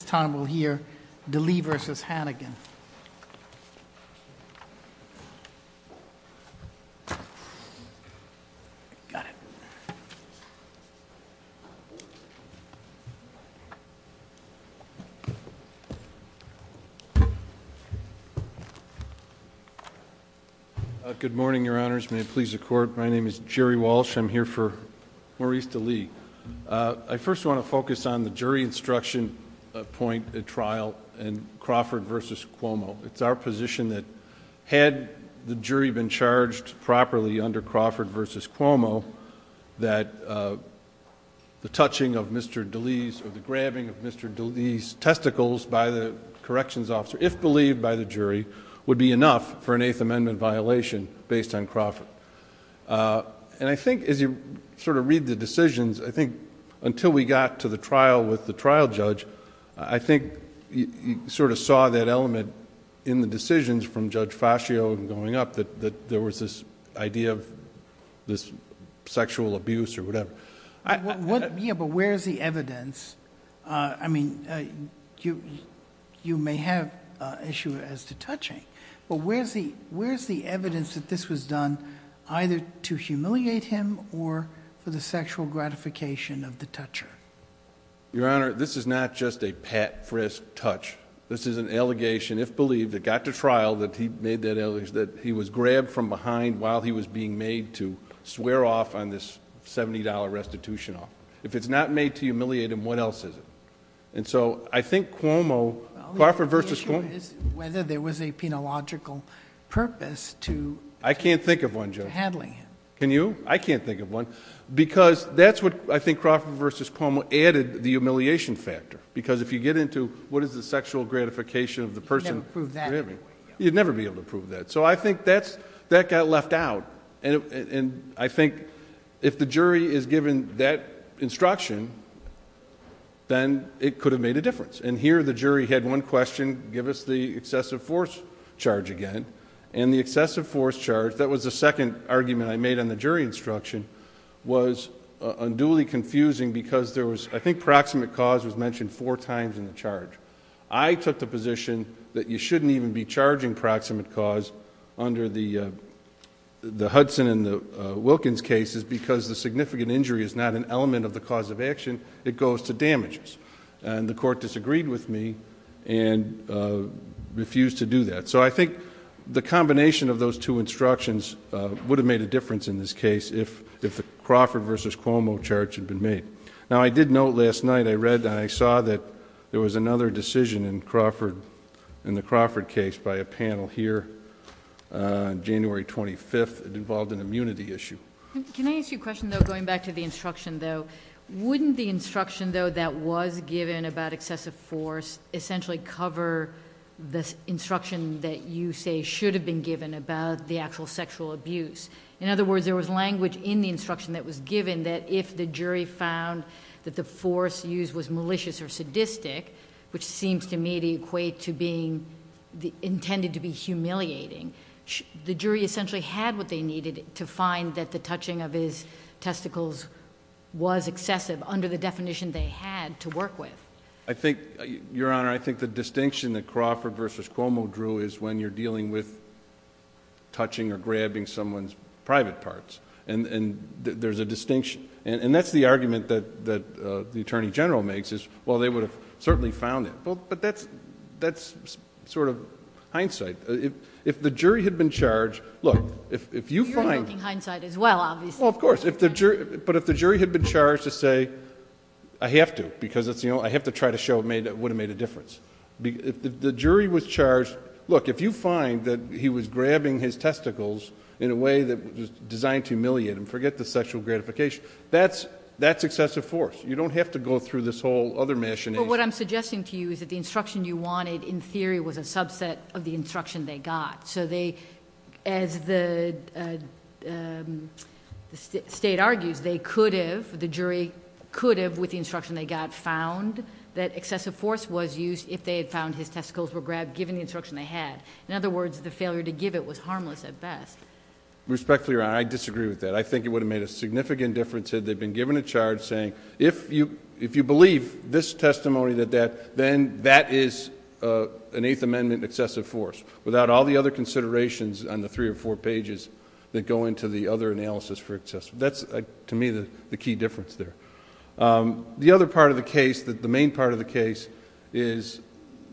This time we'll hear DeLee v. Hannigan. Got it. Good morning, Your Honors. May it please the Court. My name is Jerry Walsh. I'm here for Maurice DeLee. I first want to focus on the jury instruction point at trial in Crawford v. Cuomo. It's our position that had the jury been charged properly under Crawford v. Cuomo, that the touching of Mr. DeLee's, or the grabbing of Mr. DeLee's testicles by the corrections officer, if believed by the jury, would be enough for an Eighth Amendment violation based on Crawford. And I think as you sort of read the decisions, I think until we got to the trial with the trial judge, I think you sort of saw that element in the decisions from Judge Fascio going up, that there was this idea of this sexual abuse or whatever. Yeah, but where's the evidence? I mean, you may have issue as to touching, but where's the evidence that this was done either to humiliate him or for the sexual gratification of the toucher? Your Honor, this is not just a pat, frisk, touch. This is an allegation, if believed, that got to trial, that he made that allegation, that he was grabbed from behind while he was being made to swear off on this $70 restitution off. If it's not made to humiliate him, what else is it? And so I think Cuomo, Crawford v. Cuomo... Well, the issue is whether there was a penological purpose to... I can't think of one, Judge.... to handling him. Can you? I can't think of one. Because that's what I think Crawford v. Cuomo added, the humiliation factor. Because if you get into what is the sexual gratification of the person... You'd never prove that. You'd never be able to prove that. So I think that got left out. And I think if the jury is given that instruction, then it could have made a difference. And here the jury had one question, give us the excessive force charge again. And the excessive force charge, that was the second argument I made on the jury instruction, was unduly confusing because there was... I think proximate cause was mentioned four times in the charge. I took the position that you shouldn't even be charging proximate cause under the Hudson and the Wilkins cases because the significant injury is not an element of the cause of action, it goes to damages. And the court disagreed with me and refused to do that. So I think the combination of those two instructions would have made a difference in this case if the Crawford v. Cuomo charge had been made. Now, I did note last night, I saw that there was another decision in the Crawford case by a panel here on January 25th. It involved an immunity issue. Can I ask you a question, though, going back to the instruction, though? Wouldn't the instruction, though, that was given about excessive force essentially cover the instruction that you say should have been given about the actual sexual abuse? In other words, there was language in the instruction that was given that if the jury found that the force used was malicious or sadistic, which seems to me to equate to being intended to be humiliating, the jury essentially had what they needed to find that the touching of his testicles was excessive under the definition they had to work with. Your Honor, I think the distinction that Crawford v. Cuomo drew is when you're dealing with touching or grabbing someone's private parts, and there's a distinction. And that's the argument that the Attorney General makes is, well, they would have certainly found it. But that's sort of hindsight. If the jury had been charged... Look, if you find... You're invoking hindsight as well, obviously. Well, of course, but if the jury had been charged to say, I have to because I have to try to show it would have made a difference. If the jury was charged... Look, if you find that he was grabbing his testicles in a way that was designed to humiliate him, forget the sexual gratification, that's excessive force. You don't have to go through this whole other machination. Well, what I'm suggesting to you is that the instruction you wanted, in theory, was a subset of the instruction they got. So they, as the State argues, they could have, the jury could have, with the instruction they got, found that excessive force was used if they had found his testicles were grabbed, given the instruction they had. In other words, the failure to give it was harmless at best. Respectfully, Your Honor, I disagree with that. I think it would have made a significant difference had they been given a charge saying, if you believe this testimony, then that is an Eighth Amendment excessive force, without all the other considerations on the three or four pages that go into the other analysis for excessive... That's, to me, the key difference there. The other part of the case, the main part of the case, is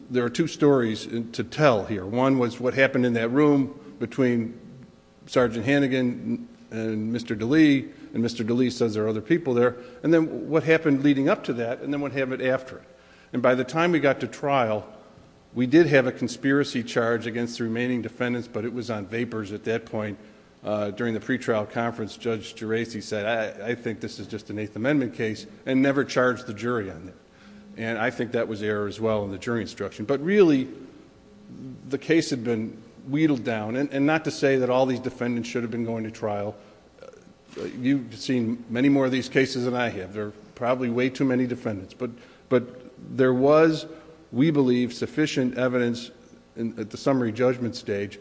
there are two stories to tell here. One was what happened in that room between Sergeant Hannigan and Mr. DeLee, and Mr. DeLee says there are other people there, and then what happened leading up to that, and then what happened after it. By the time we got to trial, we did have a conspiracy charge against the remaining defendants, but it was on vapors at that point. During the pretrial conference, Judge Geraci said, I think this is just an Eighth Amendment case, and never charged the jury on it. I think that was error as well in the jury instruction. But really, the case had been wheedled down. Not to say that all these defendants should have been going to trial. You've seen many more of these cases than I have. There are probably way too many defendants. But there was, we believe, sufficient evidence at the summary judgment stage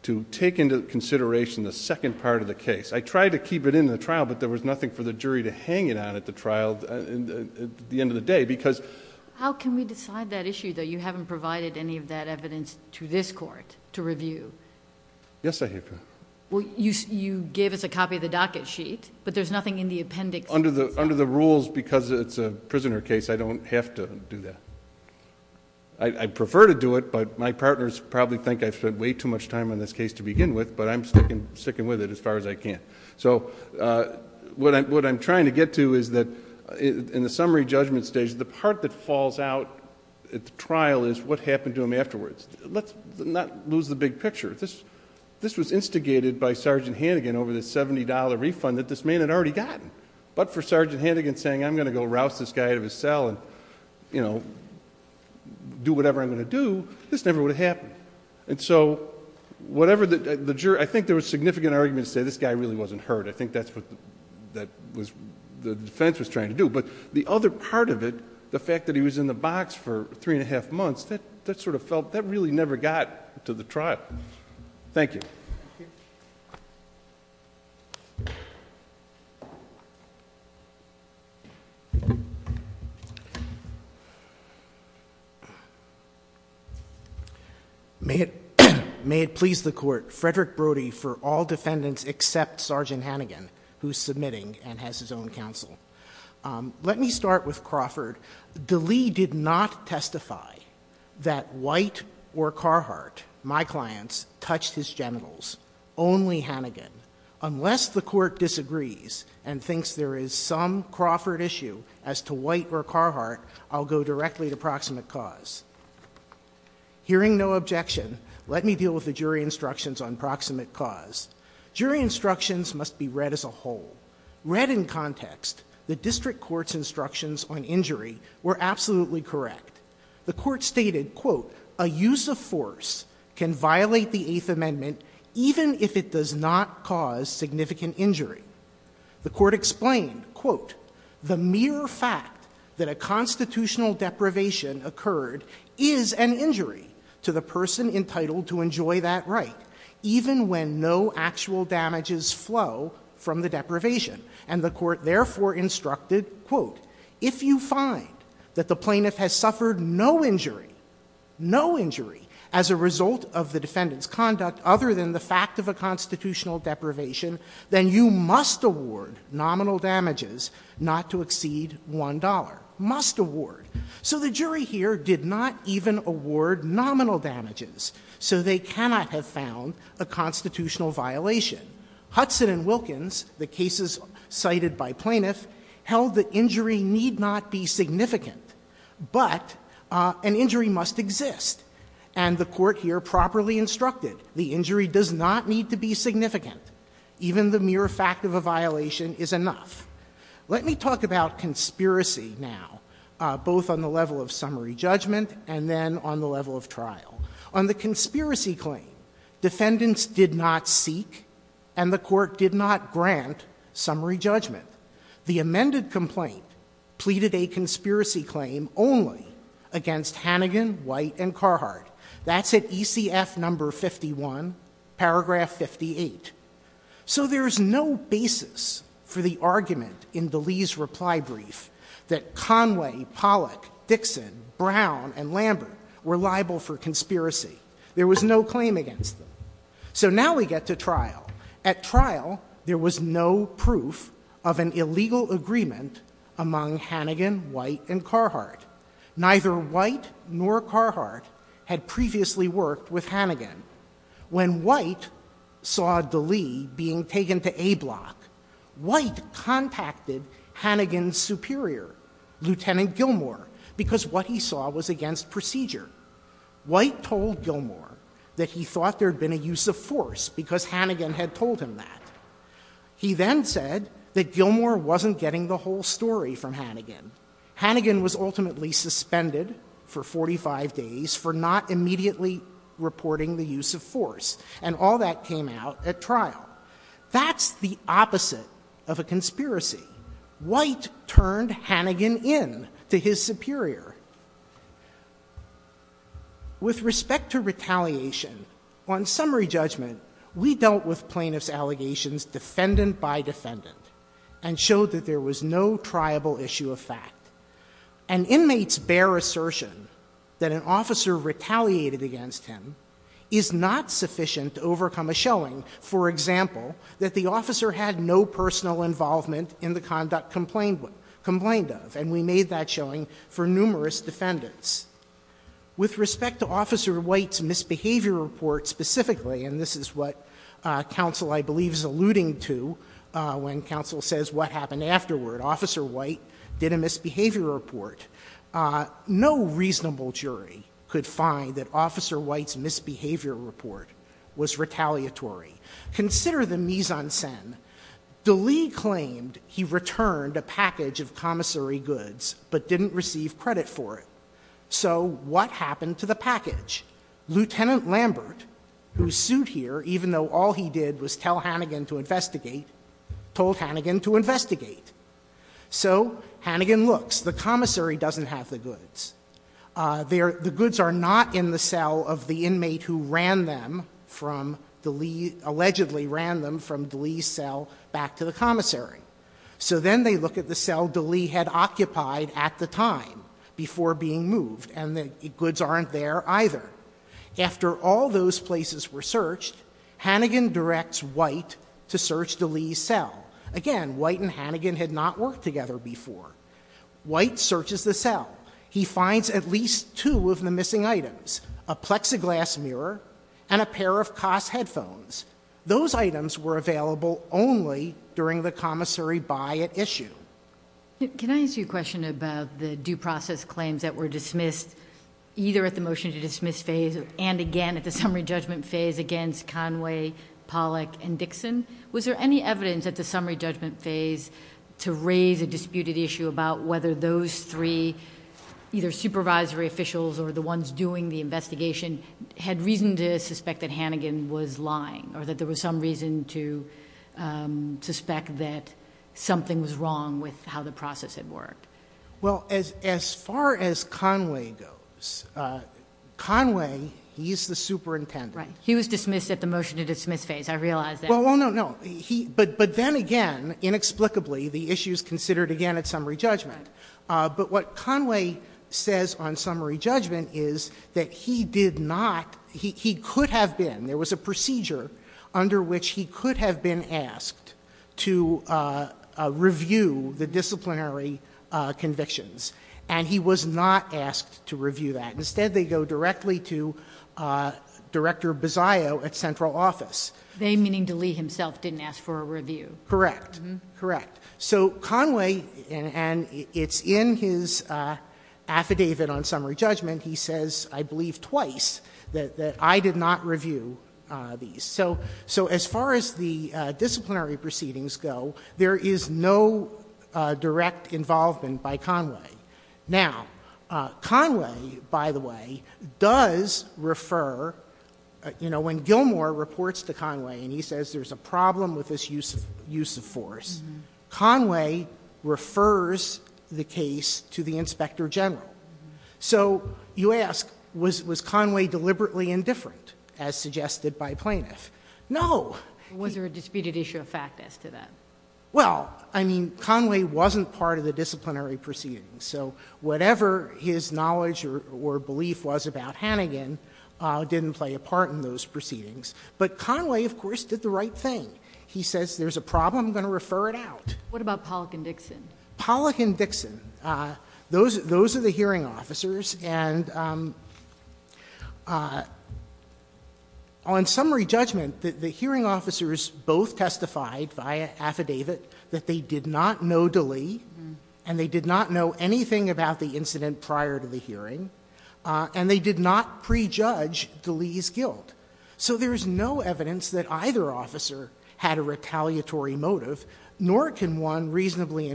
to take into consideration the second part of the case. I tried to keep it in the trial, but there was nothing for the jury to hang it on at the trial, at the end of the day, because... How can we decide that issue, though? You haven't provided any of that evidence to this court to review. Yes, I have. You gave us a copy of the docket sheet, but there's nothing in the appendix. Under the rules, because it's a prisoner case, I don't have to do that. I prefer to do it, but my partners probably think I've spent way too much time on this case to begin with, but I'm sticking with it as far as I can. What I'm trying to get to is that in the summary judgment stage, the part that falls out at the trial is what happened to him afterwards. Let's not lose the big picture. This was instigated by Sgt. Hannigan over the $70 refund that this man had already gotten, but for Sgt. Hannigan saying, I'm going to go rouse this guy out of his cell and do whatever I'm going to do, this never would have happened. I think there was significant argument to say this guy really wasn't hurt. I think that's what the defense was trying to do, but the other part of it, the fact that he was in the box for three and a half months, that really never got to the trial. Thank you. May it please the Court, Frederick Brody for all defendants except Sgt. Hannigan, who's submitting and has his own counsel. Let me start with Crawford. Dlee did not testify that White or Carhart, my clients, touched his genitals. Only Hannigan. Unless the Court disagrees and thinks there is some Crawford issue as to White or Carhart, I'll go directly to proximate cause. Hearing no objection, let me deal with the jury instructions on proximate cause. Jury instructions must be read as a whole. Read in context, the district court's instructions on injury were absolutely correct. The court stated, quote, a use of force can violate the Eighth Amendment even if it does not cause significant injury. The court explained, quote, the mere fact that a constitutional deprivation occurred is an injury to the person entitled to enjoy that right, even when no actual damages flow from the deprivation. And the court therefore instructed, quote, if you find that the plaintiff has suffered no injury, no injury as a result of the defendant's conduct other than the fact of a constitutional deprivation, then you must award nominal damages not to exceed $1. Must award. So the jury here did not even award nominal damages. So they cannot have found a constitutional violation. Hudson and Wilkins, the cases cited by plaintiff, held that injury need not be significant, but an injury must exist. And the court here properly instructed the injury does not need to be significant. Even the mere fact of a violation is enough. Let me talk about conspiracy now, both on the level of summary judgment and then on the level of trial. On the conspiracy claim, defendants did not seek, and the court did not grant summary judgment. The amended complaint pleaded a conspiracy claim only against Hannigan, White, and Carhartt. That's at ECF number 51, paragraph 58. So there's no basis for the argument in DeLee's reply brief that Conway, Pollock, Dixon, Brown, and Lambert were liable for conspiracy. There was no claim against them. So now we get to trial. At trial, there was no proof of an illegal agreement among Hannigan, White, and Carhartt. Neither White nor Carhartt had previously worked with Hannigan. When White saw DeLee being taken to A Block, White contacted Hannigan's superior, Lieutenant Gilmour, because what he saw was against procedure. White told Gilmour that he thought there had been a use of force because Hannigan had told him that. He then said that Gilmour wasn't getting the whole story from Hannigan. Hannigan was ultimately suspended for 45 days for not immediately reporting the use of force, and all that came out at trial. That's the opposite of a conspiracy. White turned Hannigan in to his superior. With respect to retaliation, on summary judgment, we dealt with plaintiffs' allegations defendant by defendant and showed that there was no triable issue of fact. An inmate's bare assertion that an officer retaliated against him is not sufficient to overcome a showing, for example, that the officer had no personal involvement in the conduct complained of. And we made that showing for numerous defendants. With respect to Officer White's misbehavior report specifically, and this is what counsel, I believe, is alluding to when counsel says what happened afterward. Officer White did a misbehavior report. No reasonable jury could find that Officer White's misbehavior report was retaliatory. Consider the mise en scene. De Lee claimed he returned a package of commissary goods but didn't receive credit for it. So what happened to the package? Lieutenant Lambert, who sued here even though all he did was tell Hannigan to investigate, told Hannigan to investigate. So Hannigan looks. The commissary doesn't have the goods. The goods are not in the cell of the inmate who ran them from De Lee, allegedly ran them from De Lee's cell back to the commissary. So then they look at the cell De Lee had occupied at the time before being moved and the goods aren't there either. After all those places were searched, Hannigan directs White to search De Lee's cell. Again, White and Hannigan had not worked together before. White searches the cell. He finds at least two of the missing items, a plexiglass mirror and a pair of Koss headphones. Those items were available only during the commissary buy at issue. Can I ask you a question about the due process claims that were dismissed either at the motion to dismiss phase and again at the summary judgment phase against Conway, Pollack and Dixon? Was there any evidence at the summary judgment phase to raise a disputed issue about whether those three either supervisory officials or the ones doing the investigation had reason to suspect that Hannigan was lying or that there was some reason to suspect that something was wrong with how the process had worked? Well, as far as Conway goes, Conway, he's the superintendent. Right. He was dismissed at the motion to dismiss phase. I realize that. Well, no, no. But then again, inexplicably, the issue is considered again at summary judgment. But what Conway says on summary judgment is that he did not, he could have been, there was a procedure under which he could have been asked to review the disciplinary convictions. And he was not asked to review that. Instead, they go directly to Director Bozzio at central office. They, meaning DeLee himself, didn't ask for a review. Correct. Correct. So Conway, and it's in his affidavit on summary judgment, he says I believe twice that I did not review these. So as far as the disciplinary proceedings go, there is no direct involvement by Conway. Now, Conway, by the way, does refer, you know, when Gilmore reports to Conway and he says there's a problem with this use of force, Conway refers the case to the inspector general. So you ask, was Conway deliberately indifferent, as suggested by plaintiff? No. Was there a disputed issue of fact as to that? Well, I mean, Conway wasn't part of the disciplinary proceedings. So whatever his knowledge or belief was about Hannigan didn't play a part in those proceedings. But Conway, of course, did the right thing. He says there's a problem, I'm going to refer it out. What about Pollack and Dixon? Pollack and Dixon. Those are the hearing officers. And on summary judgment, the hearing officers both testified via affidavit that they did not know DeLee and they did not know anything about the incident prior to the hearing. And they did not prejudge DeLee's guilt. So there's no evidence that either officer had a retaliatory motive, nor can one reasonably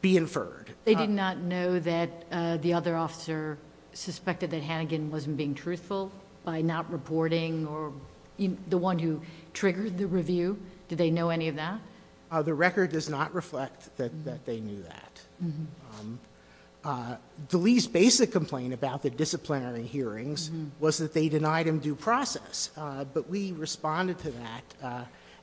be inferred. They did not know that the other officer suspected that Hannigan wasn't being truthful by not reporting or the one who triggered the review? Did they know any of that? The record does not reflect that they knew that. DeLee's basic complaint about the disciplinary hearings was that they denied him due process, but we responded to that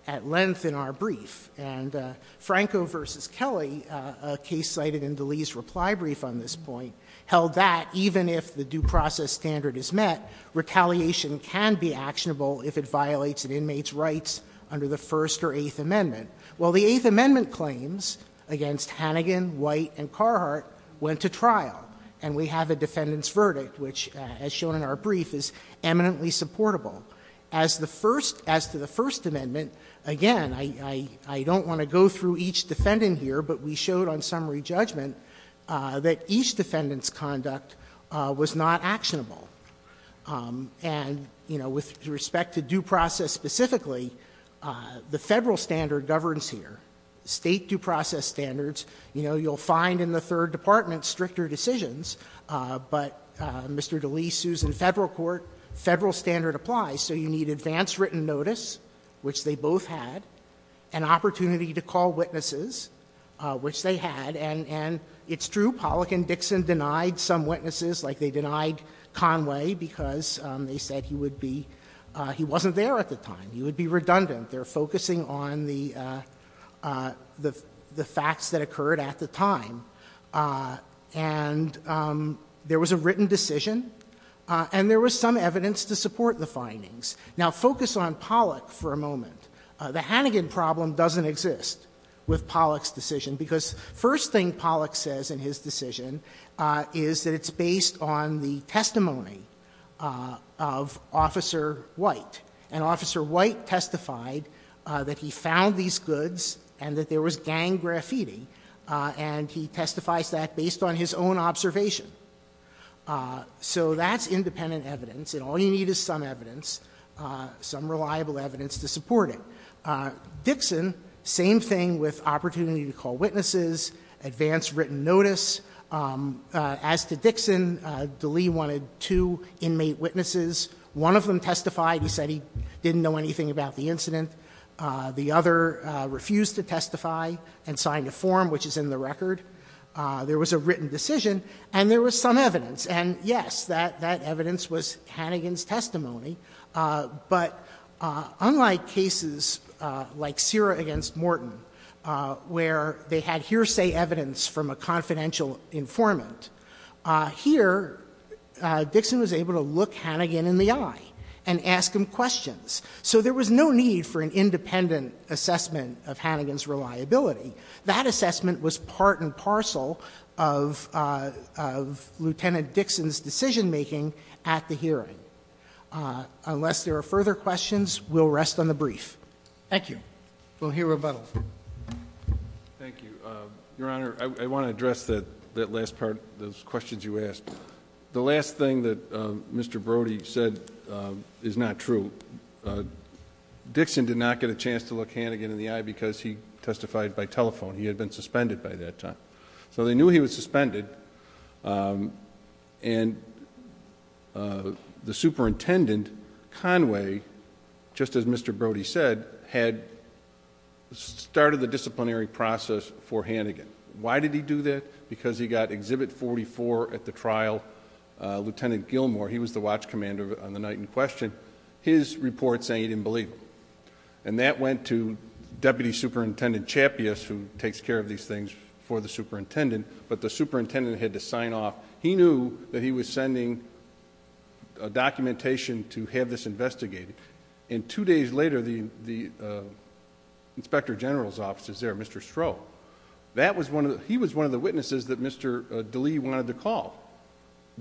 at length in our brief. And Franco v. Kelly, a case cited in DeLee's reply brief on this point, held that even if the due process standard is met, retaliation can be actionable if it violates an inmate's rights under the First or Eighth Amendment. Well, the Eighth Amendment claims against Hannigan, White, and Carhart went to trial, and we have a defendant's verdict, which, as shown in our brief, is eminently supportable. As to the First Amendment, again, I don't want to go through each defendant here, but we showed on summary judgment that each defendant's conduct was not actionable. And, you know, with respect to due process specifically, the Federal standard governs here. State due process standards, you know, you'll find in the Third Department stricter decisions, but Mr. DeLee sues in Federal court. Federal standard applies. So you need advance written notice, which they both had, an opportunity to call witnesses, which they had. And it's true, Pollack and Dixon denied some witnesses, like they denied Conway because they said he would be — he wasn't there at the time. He would be redundant. They're focusing on the facts that occurred at the time. And there was a written decision, and there was some evidence to support the findings. Now, focus on Pollack for a moment. The Hannigan problem doesn't exist with Pollack's decision, because first thing Pollack says in his decision is that it's based on the testimony of Officer White. And Officer White testified that he found these goods and that there was gang graffiti, and he testifies that based on his own observation. So that's independent evidence. And all you need is some evidence, some reliable evidence to support it. Dixon, same thing with opportunity to call witnesses, advance written notice. As to Dixon, DeLee wanted two inmate witnesses. One of them testified. He said he didn't know anything about the incident. The other refused to testify and signed a form, which is in the record. There was a written decision, and there was some evidence. And, yes, that evidence was Hannigan's testimony. But unlike cases like Syrah v. Morton, where they had hearsay evidence from a confidential informant, here Dixon was able to look Hannigan in the eye and ask him questions. So there was no need for an independent assessment of Hannigan's reliability. That assessment was part and parcel of Lieutenant Dixon's decision making at the hearing. Unless there are further questions, we'll rest on the brief. Thank you. We'll hear rebuttals. Thank you. Your Honor, I want to address that last part, those questions you asked. The last thing that Mr. Brody said is not true. Dixon did not get a chance to look Hannigan in the eye because he testified by telephone. He had been suspended by that time. So they knew he was suspended, and the superintendent, Conway, just as Mr. Brody said, had started the disciplinary process for Hannigan. Why did he do that? Because he got Exhibit 44 at the trial. Lieutenant Gilmore, he was the watch commander on the night in question, his report saying he didn't believe him. And that went to Deputy Superintendent Chappius, who takes care of these things for the superintendent, but the superintendent had to sign off. He knew that he was sending documentation to have this investigated. And two days later, the inspector general's office was there, Mr. Stroh. He was one of the witnesses that Mr. DeLee wanted to call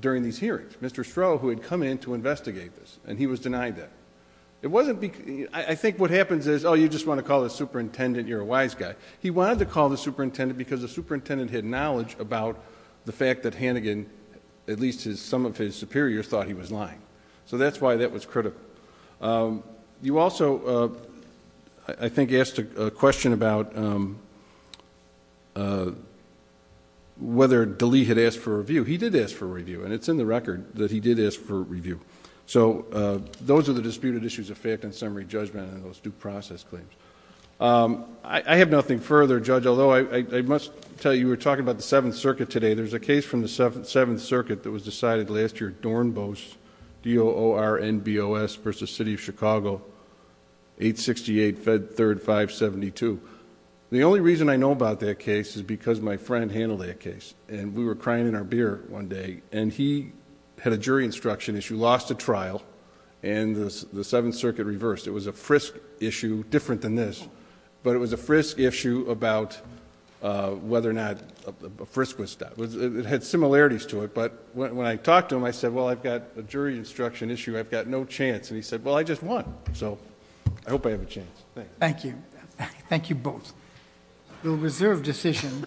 during these hearings, Mr. Stroh, who had come in to investigate this, and he was denied that. I think what happens is, oh, you just want to call the superintendent, you're a wise guy. He wanted to call the superintendent because the superintendent had knowledge about the fact that Hannigan, at least some of his superiors, thought he was lying. So that's why that was critical. You also, I think, asked a question about whether DeLee had asked for a review. He did ask for a review, and it's in the record that he did ask for a review. So those are the disputed issues of fact and summary judgment on those due process claims. I have nothing further, Judge, although I must tell you we're talking about the Seventh Circuit today. There's a case from the Seventh Circuit that was decided last year, Dornbost, D-O-O-R-N-B-O-S versus City of Chicago, 868 Fed 3rd 572. The only reason I know about that case is because my friend handled that case, and we were crying in our beer one day, and he had a jury instruction issue, lost a trial, and the Seventh Circuit reversed. It was a frisk issue, different than this, but it was a frisk issue about whether or not... It had similarities to it, but when I talked to him, I said, well, I've got a jury instruction issue, I've got no chance. And he said, well, I just won, so I hope I have a chance. Thank you. Thank you. Thank you both. The reserve decision...